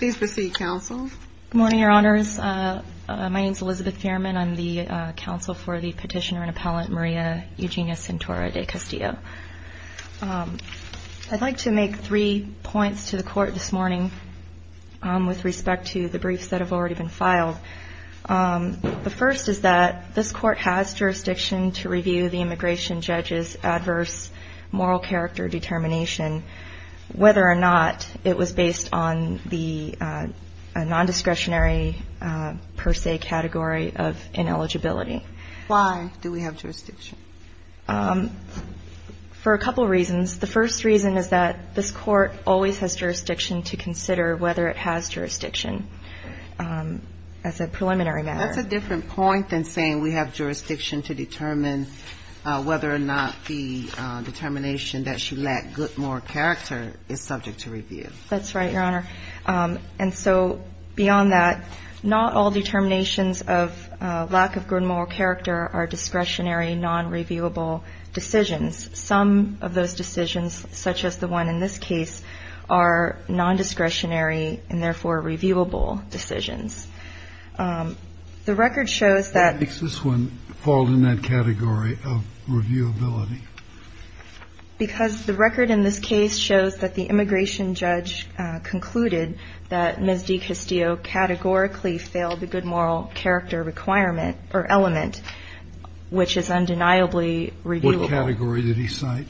Good morning, Your Honors. My name is Elizabeth Thierman. I'm the counsel for the petitioner and appellant Maria Eugenia Centora de Castillo. I'd like to make three points to the court this morning with respect to the briefs that have already been filed. The first is that this court has jurisdiction to review the immigration judge's adverse moral character determination, whether or not it was based on the nondiscretionary per se category of ineligibility. Why do we have jurisdiction? For a couple reasons. The first reason is that this court always has jurisdiction to consider whether it has jurisdiction as a preliminary matter. That's a different point than saying we have jurisdiction to determine whether or not the determination that she lacked good moral character is subject to review. That's right, Your Honor. And so beyond that, not all determinations of lack of good moral character are discretionary, nonreviewable decisions. Some of those decisions, such as the one in this case, are nondiscretionary and, therefore, reviewable decisions. The record shows that Why makes this one fall in that category of reviewability? Because the record in this case shows that the immigration judge concluded that Ms. DeCastillo categorically failed the good moral character requirement or element, which is undeniably reviewable. What category did he cite?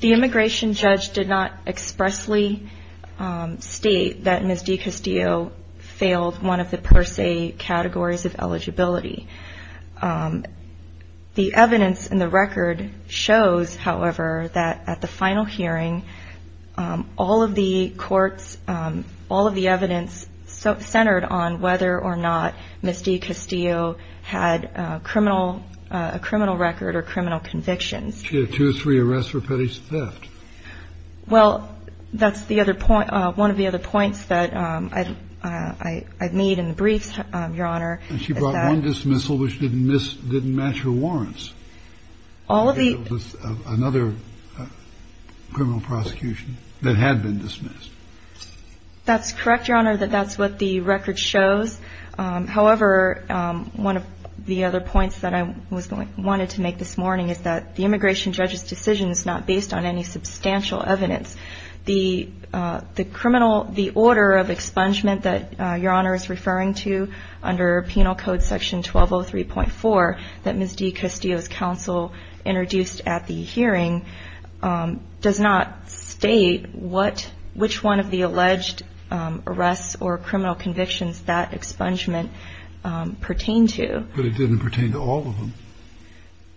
The immigration judge did not expressly state that Ms. DeCastillo failed one of the per se categories of eligibility. The evidence in the record shows, however, that at the final hearing, all of the courts, all of the evidence centered on whether or not Ms. DeCastillo had a criminal record or criminal convictions. She had two or three arrests for petty theft. Well, that's one of the other points that I made in the briefs, Your Honor. And she brought one dismissal which didn't match her warrants. All of the Another criminal prosecution that had been dismissed. That's correct, Your Honor, that that's what the record shows. However, one of the other points that I wanted to make this morning is that the immigration judge's decision is not based on any substantial evidence. The order of expungement that Your Honor is referring to under Penal Code Section 1203.4 that Ms. DeCastillo's counsel introduced at the hearing does not state what which one of the alleged arrests or criminal convictions that expungement pertain to. But it didn't pertain to all of them.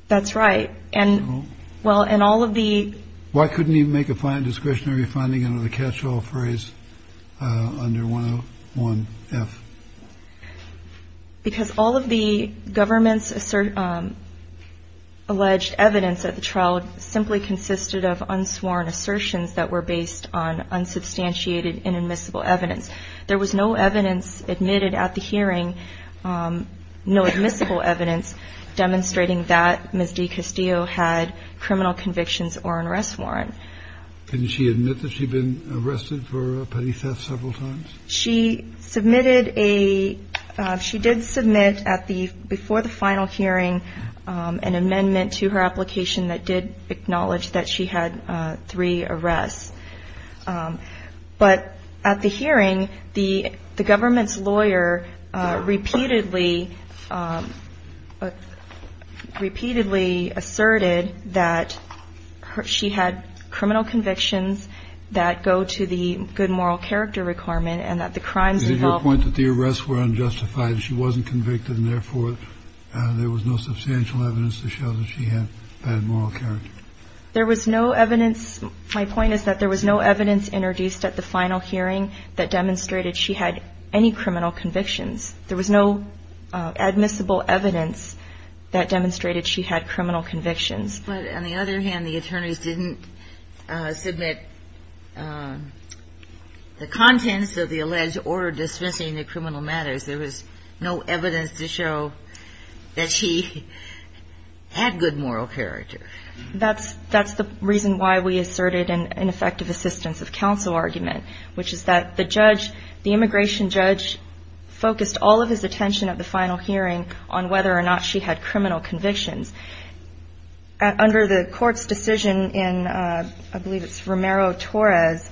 That's right. And well, and all of the Why couldn't he make a fine discretionary finding under the catch-all phrase under 101F? Because all of the government's alleged evidence at the trial simply consisted of unsworn assertions that were based on unsubstantiated inadmissible evidence. There was no evidence admitted at the hearing, no admissible evidence demonstrating that Ms. DeCastillo had criminal convictions or an arrest warrant. Can she admit that she'd been arrested for petty theft several times? She submitted a she did submit at the before the final hearing an amendment to her application that did acknowledge that she had three arrests. But at the hearing, the government's lawyer repeatedly repeatedly asserted that she had criminal convictions that go to the good moral character requirement and that the crimes involved. Did you point that the arrests were unjustified and she wasn't convicted and therefore there was no substantial evidence to show that she had bad moral character? There was no evidence. My point is that there was no evidence introduced at the final hearing that demonstrated she had any criminal convictions. There was no admissible evidence that demonstrated she had criminal convictions. But on the other hand, the attorneys didn't submit the contents of the alleged order dismissing the criminal matters. There was no evidence to show that she had good moral character. That's that's the reason why we asserted an ineffective assistance of counsel argument, which is that the judge, the immigration judge, focused all of his attention at the final hearing on whether or not she had criminal convictions under the court's decision. And I believe it's Romero Torres.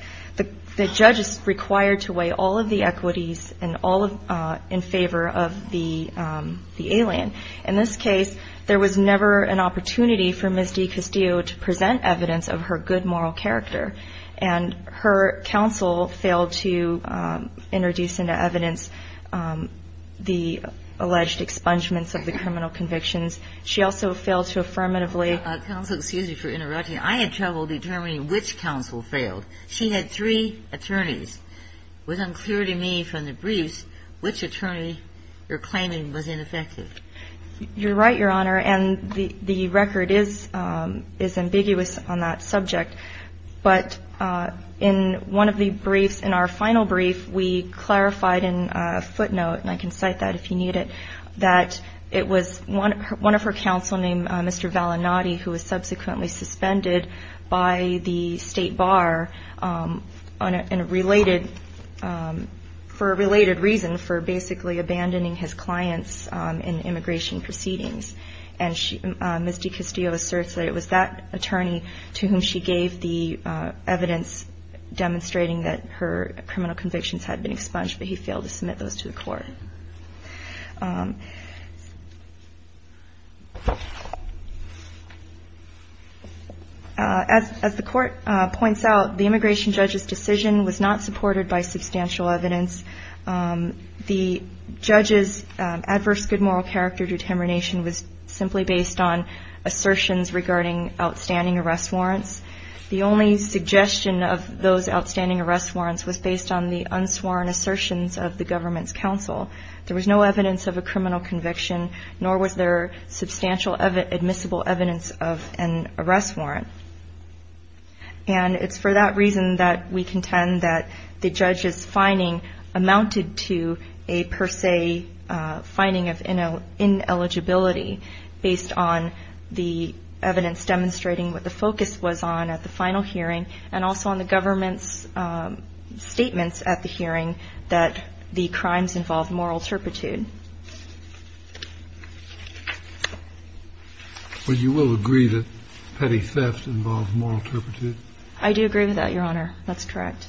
The judge is required to weigh all of the equities and all in favor of the the alien. In this case, there was never an opportunity for Misty Castillo to present evidence of her good moral character. And her counsel failed to introduce into evidence the alleged expungements of the criminal convictions. She also failed to affirmatively counsel. Excuse me for interrupting. I had trouble determining which counsel failed. She had three attorneys with unclear to me from the briefs which attorney you're claiming was ineffective. You're right, Your Honor. And the record is is ambiguous on that subject. But in one of the briefs in our final brief, we clarified in a footnote, and I can cite that if you need it, that it was one of her counsel named Mr. subsequently suspended by the state bar on a related for a related reason for basically abandoning his clients in immigration proceedings. And she misty Castillo asserts that it was that attorney to whom she gave the evidence demonstrating that her criminal convictions had been expunged. But he failed to submit those to the court. As the court points out, the immigration judge's decision was not supported by substantial evidence. The judge's adverse good moral character determination was simply based on assertions regarding outstanding arrest warrants. The only suggestion of those outstanding arrest warrants was based on the unsworn assertions of the government's counsel. There was no evidence of a criminal conviction, nor was there substantial admissible evidence of an arrest warrant. And it's for that reason that we contend that the judge's finding amounted to a per se finding of ineligibility based on the evidence demonstrating what the focus was on at the final hearing and also on the government's statements at the hearing that the crimes involved moral turpitude. You will agree that petty theft involved moral turpitude. I do agree with that, Your Honor. That's correct.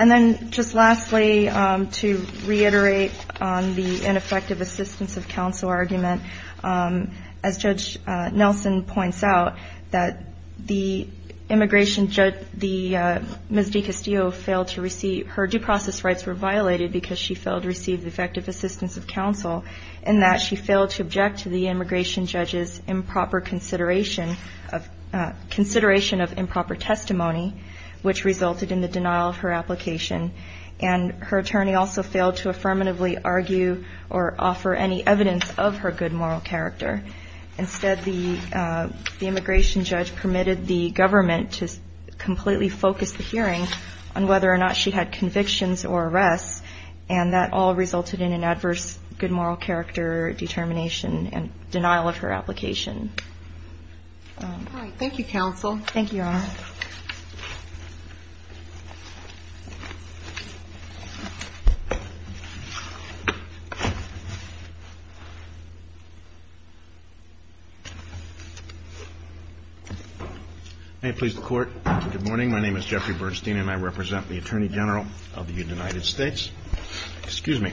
And then just lastly, to reiterate on the ineffective assistance of counsel argument, as Judge Nelson points out that the immigration judge, the Ms. DiCastillo, failed to receive her due process rights were violated because she failed to receive effective assistance of counsel, and that she failed to object to the immigration judge's improper consideration of consideration of improper testimony. Which resulted in the denial of her application. And her attorney also failed to affirmatively argue or offer any evidence of her good moral character. Instead, the immigration judge permitted the government to completely focus the hearing on whether or not she had convictions or arrests. And that all resulted in an adverse good moral character determination and denial of her application. Thank you, counsel. Thank you, Your Honor. May it please the Court. Good morning. My name is Jeffrey Bernstein, and I represent the Attorney General of the United States. Excuse me.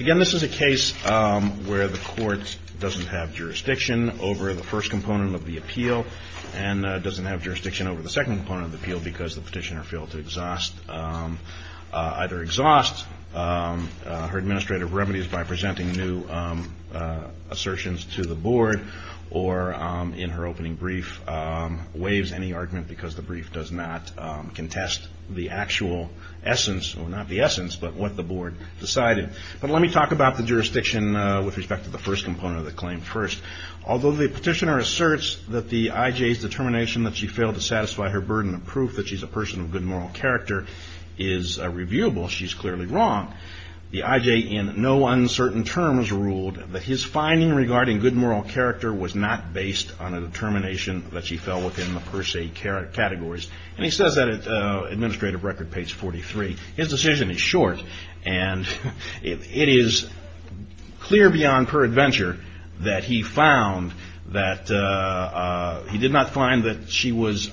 Again, this is a case where the court doesn't have jurisdiction over the first component of the appeal and doesn't have jurisdiction over the second component of the appeal because the petitioner failed to either exhaust her administrative remedies by presenting new assertions to the board or, in her opening brief, waives any argument because the brief does not contest the actual essence, or not the essence, but what the board decided. But let me talk about the jurisdiction with respect to the first component of the claim first. Although the petitioner asserts that the I.J.'s determination that she failed to satisfy her burden of proof that she's a person of good moral character is reviewable, she's clearly wrong. The I.J. in no uncertain terms ruled that his finding regarding good moral character was not based on a determination that she fell within the per se categories. And he says that in Administrative Record, page 43. His decision is short, and it is clear beyond her adventure that he found that he did not find that she was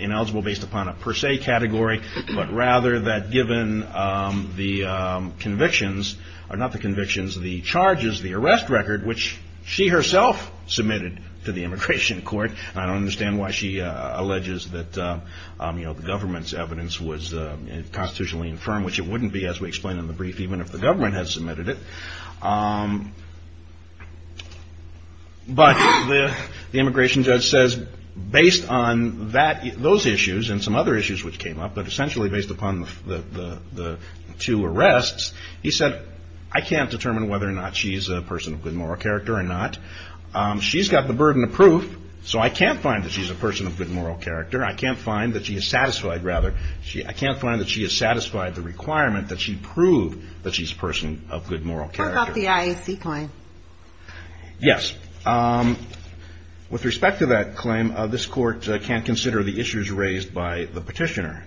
ineligible based upon a per se category, but rather that given the convictions, or not the convictions, the charges, the arrest record, which she herself submitted to the immigration court. And I don't understand why she alleges that, you know, the government's evidence was constitutionally infirm, which it wouldn't be as we explain in the brief, even if the government had submitted it. But the immigration judge says based on that, those issues, and some other issues which came up, but essentially based upon the two arrests, he said, I can't determine whether or not she's a person of good moral character or not. She's got the burden of proof, so I can't find that she's a person of good moral character. I can't find that she is satisfied, rather. I can't find that she has satisfied the requirement that she prove that she's a person of good moral character. What about the IAC claim? Yes. With respect to that claim, this court can't consider the issues raised by the petitioner.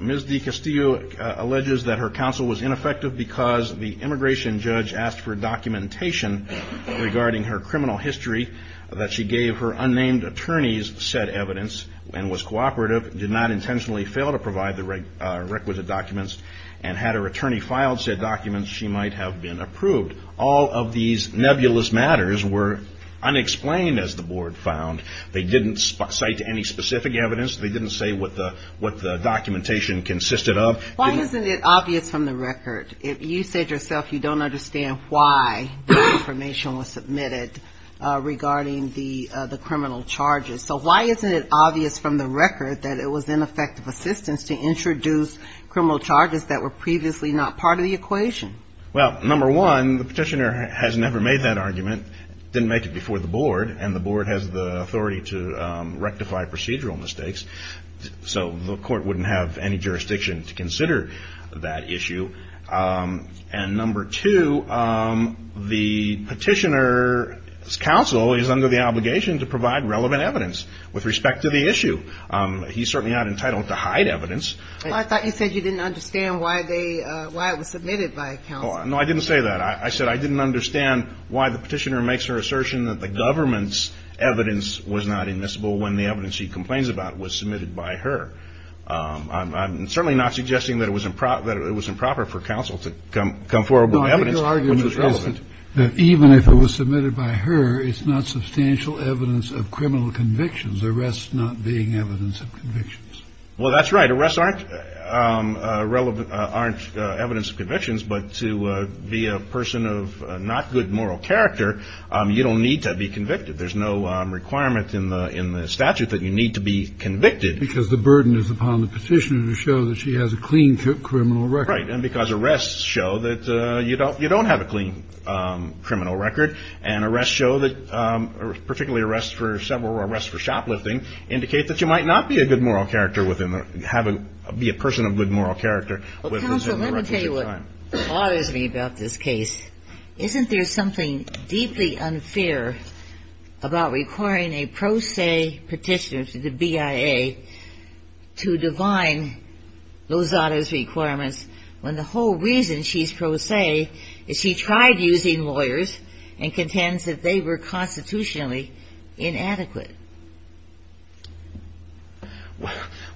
Ms. DeCastillo alleges that her counsel was ineffective because the immigration judge asked for documentation regarding her criminal history, that she gave her unnamed attorneys said evidence, and was cooperative, did not intentionally fail to provide the requisite documents, and had her attorney filed said documents, she might have been approved. All of these nebulous matters were unexplained, as the board found. They didn't cite any specific evidence. They didn't say what the documentation consisted of. Why isn't it obvious from the record? You said yourself you don't understand why the information was submitted regarding the criminal charges. So why isn't it obvious from the record that it was ineffective assistance to introduce criminal charges that were previously not part of the equation? Well, number one, the petitioner has never made that argument, didn't make it before the board, and the board has the authority to rectify procedural mistakes. So the court wouldn't have any jurisdiction to consider that issue. And number two, the petitioner's counsel is under the obligation to provide relevant evidence with respect to the issue. He's certainly not entitled to hide evidence. Well, I thought you said you didn't understand why it was submitted by a counsel. No, I didn't say that. I said I didn't understand why the petitioner makes her assertion that the government's evidence was not admissible when the evidence she complains about was submitted by her. I'm certainly not suggesting that it was improper for counsel to come forward with evidence when it was relevant. No, I think your argument is that even if it was submitted by her, it's not substantial evidence of criminal convictions, arrests not being evidence of convictions. Well, that's right. Arrests aren't evidence of convictions. But to be a person of not good moral character, you don't need to be convicted. There's no requirement in the statute that you need to be convicted. Because the burden is upon the petitioner to show that she has a clean criminal record. Right. And because arrests show that you don't have a clean criminal record, and arrests show that, particularly arrests for several, arrests for shoplifting, indicate that you might not be a good moral character within the, have a, be a person of good moral character. Well, counsel, let me tell you what bothers me about this case. Isn't there something deeply unfair about requiring a pro se petitioner to the BIA to divine Lozada's requirements when the whole reason she's pro se is she tried using lawyers and contends that they were constitutionally inadequate?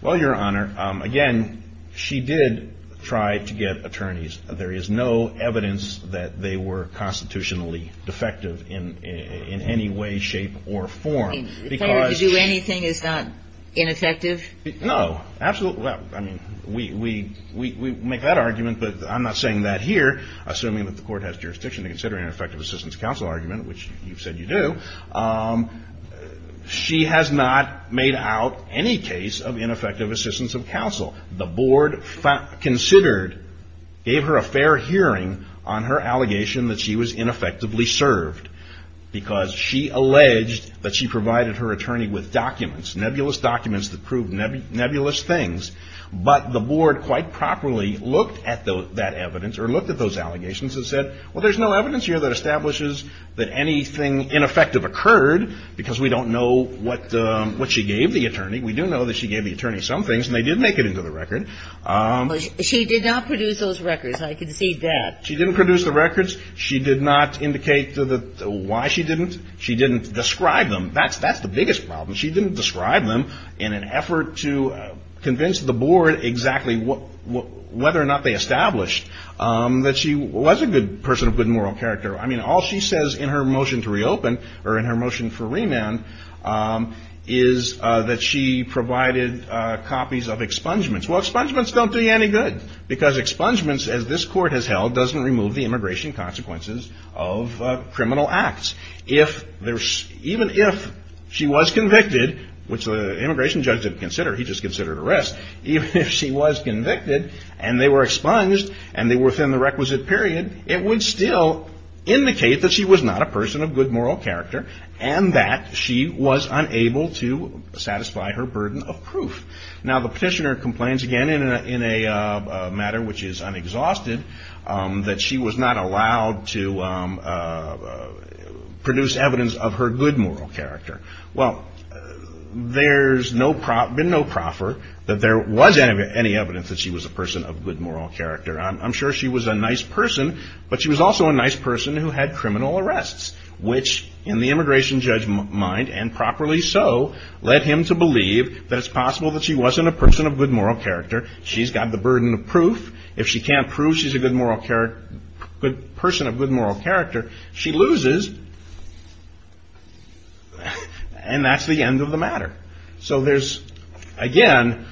Well, your Honor, again, she did try to get attorneys. There is no evidence that they were constitutionally defective in any way, shape, or form. If I were to do anything, it's not ineffective? No, absolutely. I mean, we make that argument, but I'm not saying that here, assuming that the court has jurisdiction to consider an ineffective assistance counsel argument, which you've said you do. She has not made out any case of ineffective assistance of counsel. The board considered, gave her a fair hearing on her allegation that she was ineffectively served because she alleged that she provided her attorney with documents, nebulous documents that proved nebulous things. But the board quite properly looked at that evidence or looked at those allegations and said, well, there's no evidence here that establishes that anything ineffective occurred because we don't know what she gave the attorney. We do know that she gave the attorney some things, and they did make it into the record. She did not produce those records. I can see that. She didn't produce the records. She did not indicate why she didn't. She didn't describe them. That's the biggest problem. She didn't describe them in an effort to convince the board exactly whether or not they established that she was a good person, a good moral character. I mean, all she says in her motion to reopen or in her motion for remand is that she provided copies of expungements. Well, expungements don't do you any good because expungements, as this court has held, doesn't remove the immigration consequences of criminal acts. Even if she was convicted, which the immigration judge didn't consider. He just considered arrest. Even if she was convicted and they were expunged and they were within the requisite period, it would still indicate that she was not a person of good moral character and that she was unable to satisfy her burden of proof. Now, the petitioner complains again in a matter which is unexhausted that she was not allowed to produce evidence of her good moral character. Well, there's been no proffer that there was any evidence that she was a person of good moral character. I'm sure she was a nice person, but she was also a nice person who had criminal arrests, which in the immigration judge's mind, and properly so, led him to believe that it's possible that she wasn't a person of good moral character. If she can't prove she's a person of good moral character, she loses, and that's the end of the matter. So there's, again,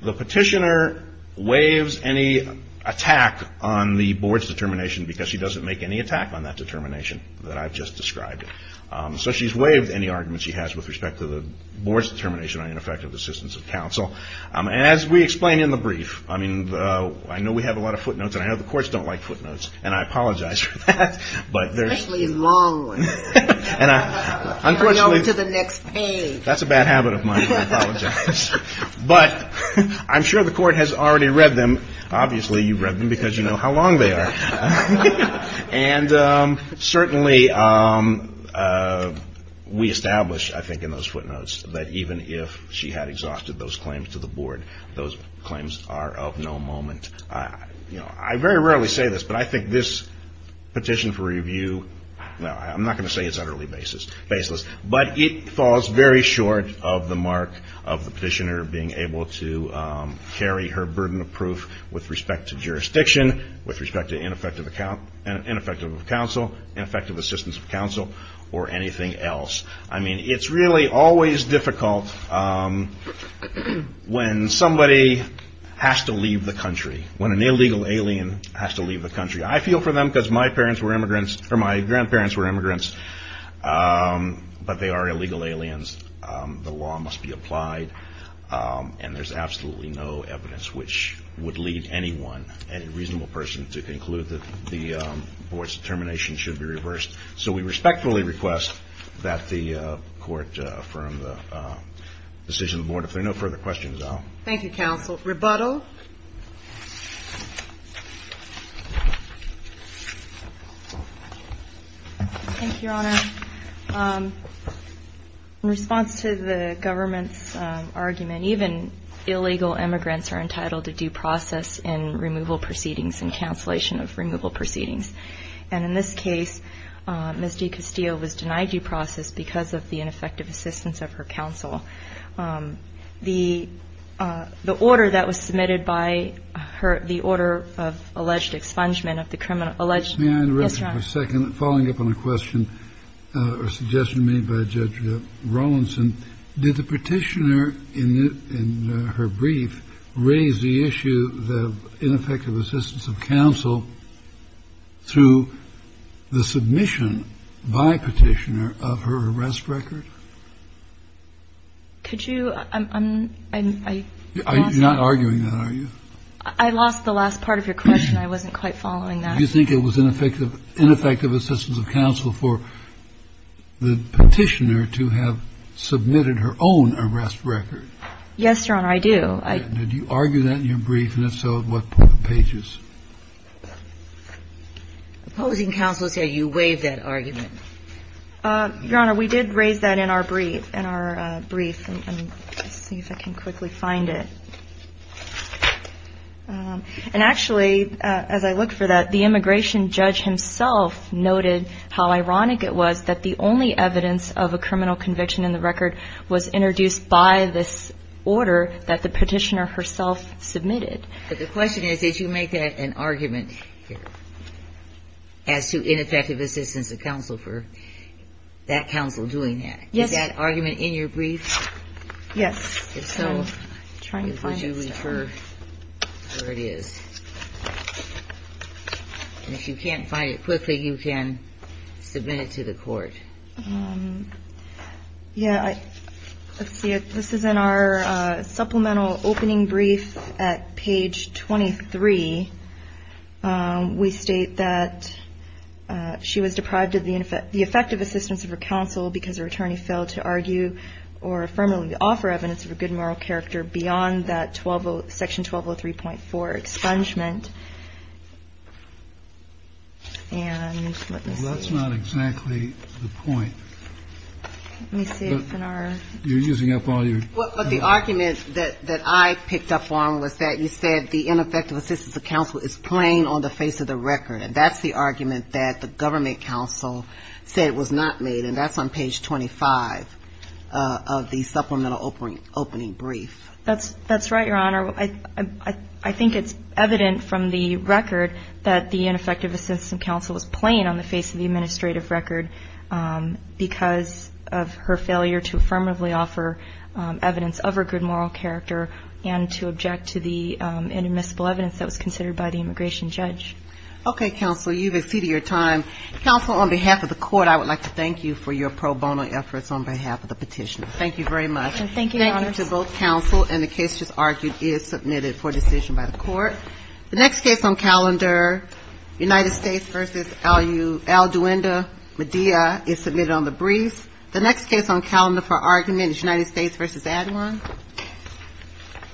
the petitioner waives any attack on the board's determination because she doesn't make any attack on that determination that I've just described. So she's waived any argument she has with respect to the board's determination on ineffective assistance of counsel. And as we explain in the brief, I mean, I know we have a lot of footnotes, and I know the courts don't like footnotes, and I apologize for that, but there's... Especially long ones. And I, unfortunately... They go to the next page. That's a bad habit of mine, I apologize. But I'm sure the court has already read them. Obviously, you've read them because you know how long they are. And certainly, we establish, I think, in those footnotes that even if she had exhausted those claims to the board, those claims are of no moment. I very rarely say this, but I think this petition for review, I'm not going to say it's utterly baseless, but it falls very short of the mark of the petitioner being able to carry her burden of proof with respect to jurisdiction, with respect to ineffective counsel, ineffective assistance of counsel, or anything else. I mean, it's really always difficult when somebody has to leave the country, when an illegal alien has to leave the country. I feel for them because my parents were immigrants, or my grandparents were immigrants, but they are illegal aliens. The law must be applied, and there's absolutely no evidence which would lead anyone, any reasonable person, to conclude that the board's determination should be reversed. So we respectfully request that the court affirm the decision of the board. If there are no further questions, I'll... Thank you, counsel. Rebuttal. Thank you, Your Honor. In response to the government's argument, even illegal immigrants are entitled to due process in removal proceedings and cancellation of removal proceedings. And in this case, Ms. DiCastillo was denied due process because of the ineffective assistance of her counsel. The order that was submitted by her, the order of alleged expungement of the criminal alleged... Yes, Your Honor. Following up on a question or suggestion made by Judge Rawlinson, did the petitioner in her brief raise the issue of ineffective assistance of counsel through the submission by petitioner of her arrest record? Could you... I'm not arguing that, are you? I lost the last part of your question. I wasn't quite following that. Did you think it was ineffective assistance of counsel for the petitioner to have submitted her own arrest record? Yes, Your Honor, I do. Did you argue that in your brief? And if so, what pages? Opposing counsel say you waived that argument. Your Honor, we did raise that in our brief. Let's see if I can quickly find it. And actually, as I look for that, the immigration judge himself noted how ironic it was that the only evidence of a criminal conviction in the record was introduced by this order that the petitioner herself submitted. But the question is, did you make that an argument as to ineffective assistance of counsel for that counsel doing that? Yes. Is that argument in your brief? Yes. If so, would you refer where it is? And if you can't find it quickly, you can submit it to the court. Yeah, let's see. This is in our supplemental opening brief at page 23. We state that she was deprived of the effective assistance of her counsel because her attorney failed to argue or affirmatively offer evidence of a good moral character beyond that section 1203.4 expungement. And let me see. Well, that's not exactly the point. Let me see if in our ---- You're using up all your time. But the argument that I picked up on was that you said the ineffective assistance of counsel is plain on the face of the record. And that's the argument that the government counsel said was not made. And that's on page 25 of the supplemental opening brief. That's right, Your Honor. I think it's evident from the record that the ineffective assistance of counsel was plain on the face of the administrative record because of her failure to affirmatively offer evidence of her good moral character and to object to the inadmissible evidence that was considered by the immigration judge. Okay, counsel. You've exceeded your time. Counsel, on behalf of the court, I would like to thank you for your pro bono efforts on behalf of the petitioner. Thank you very much. Thank you, Your Honor. Thank you to both counsel. And the case just argued is submitted for decision by the court. The next case on calendar, United States v. Alduinda Medea, is submitted on the brief. The next case on calendar for argument is United States v. Adwan.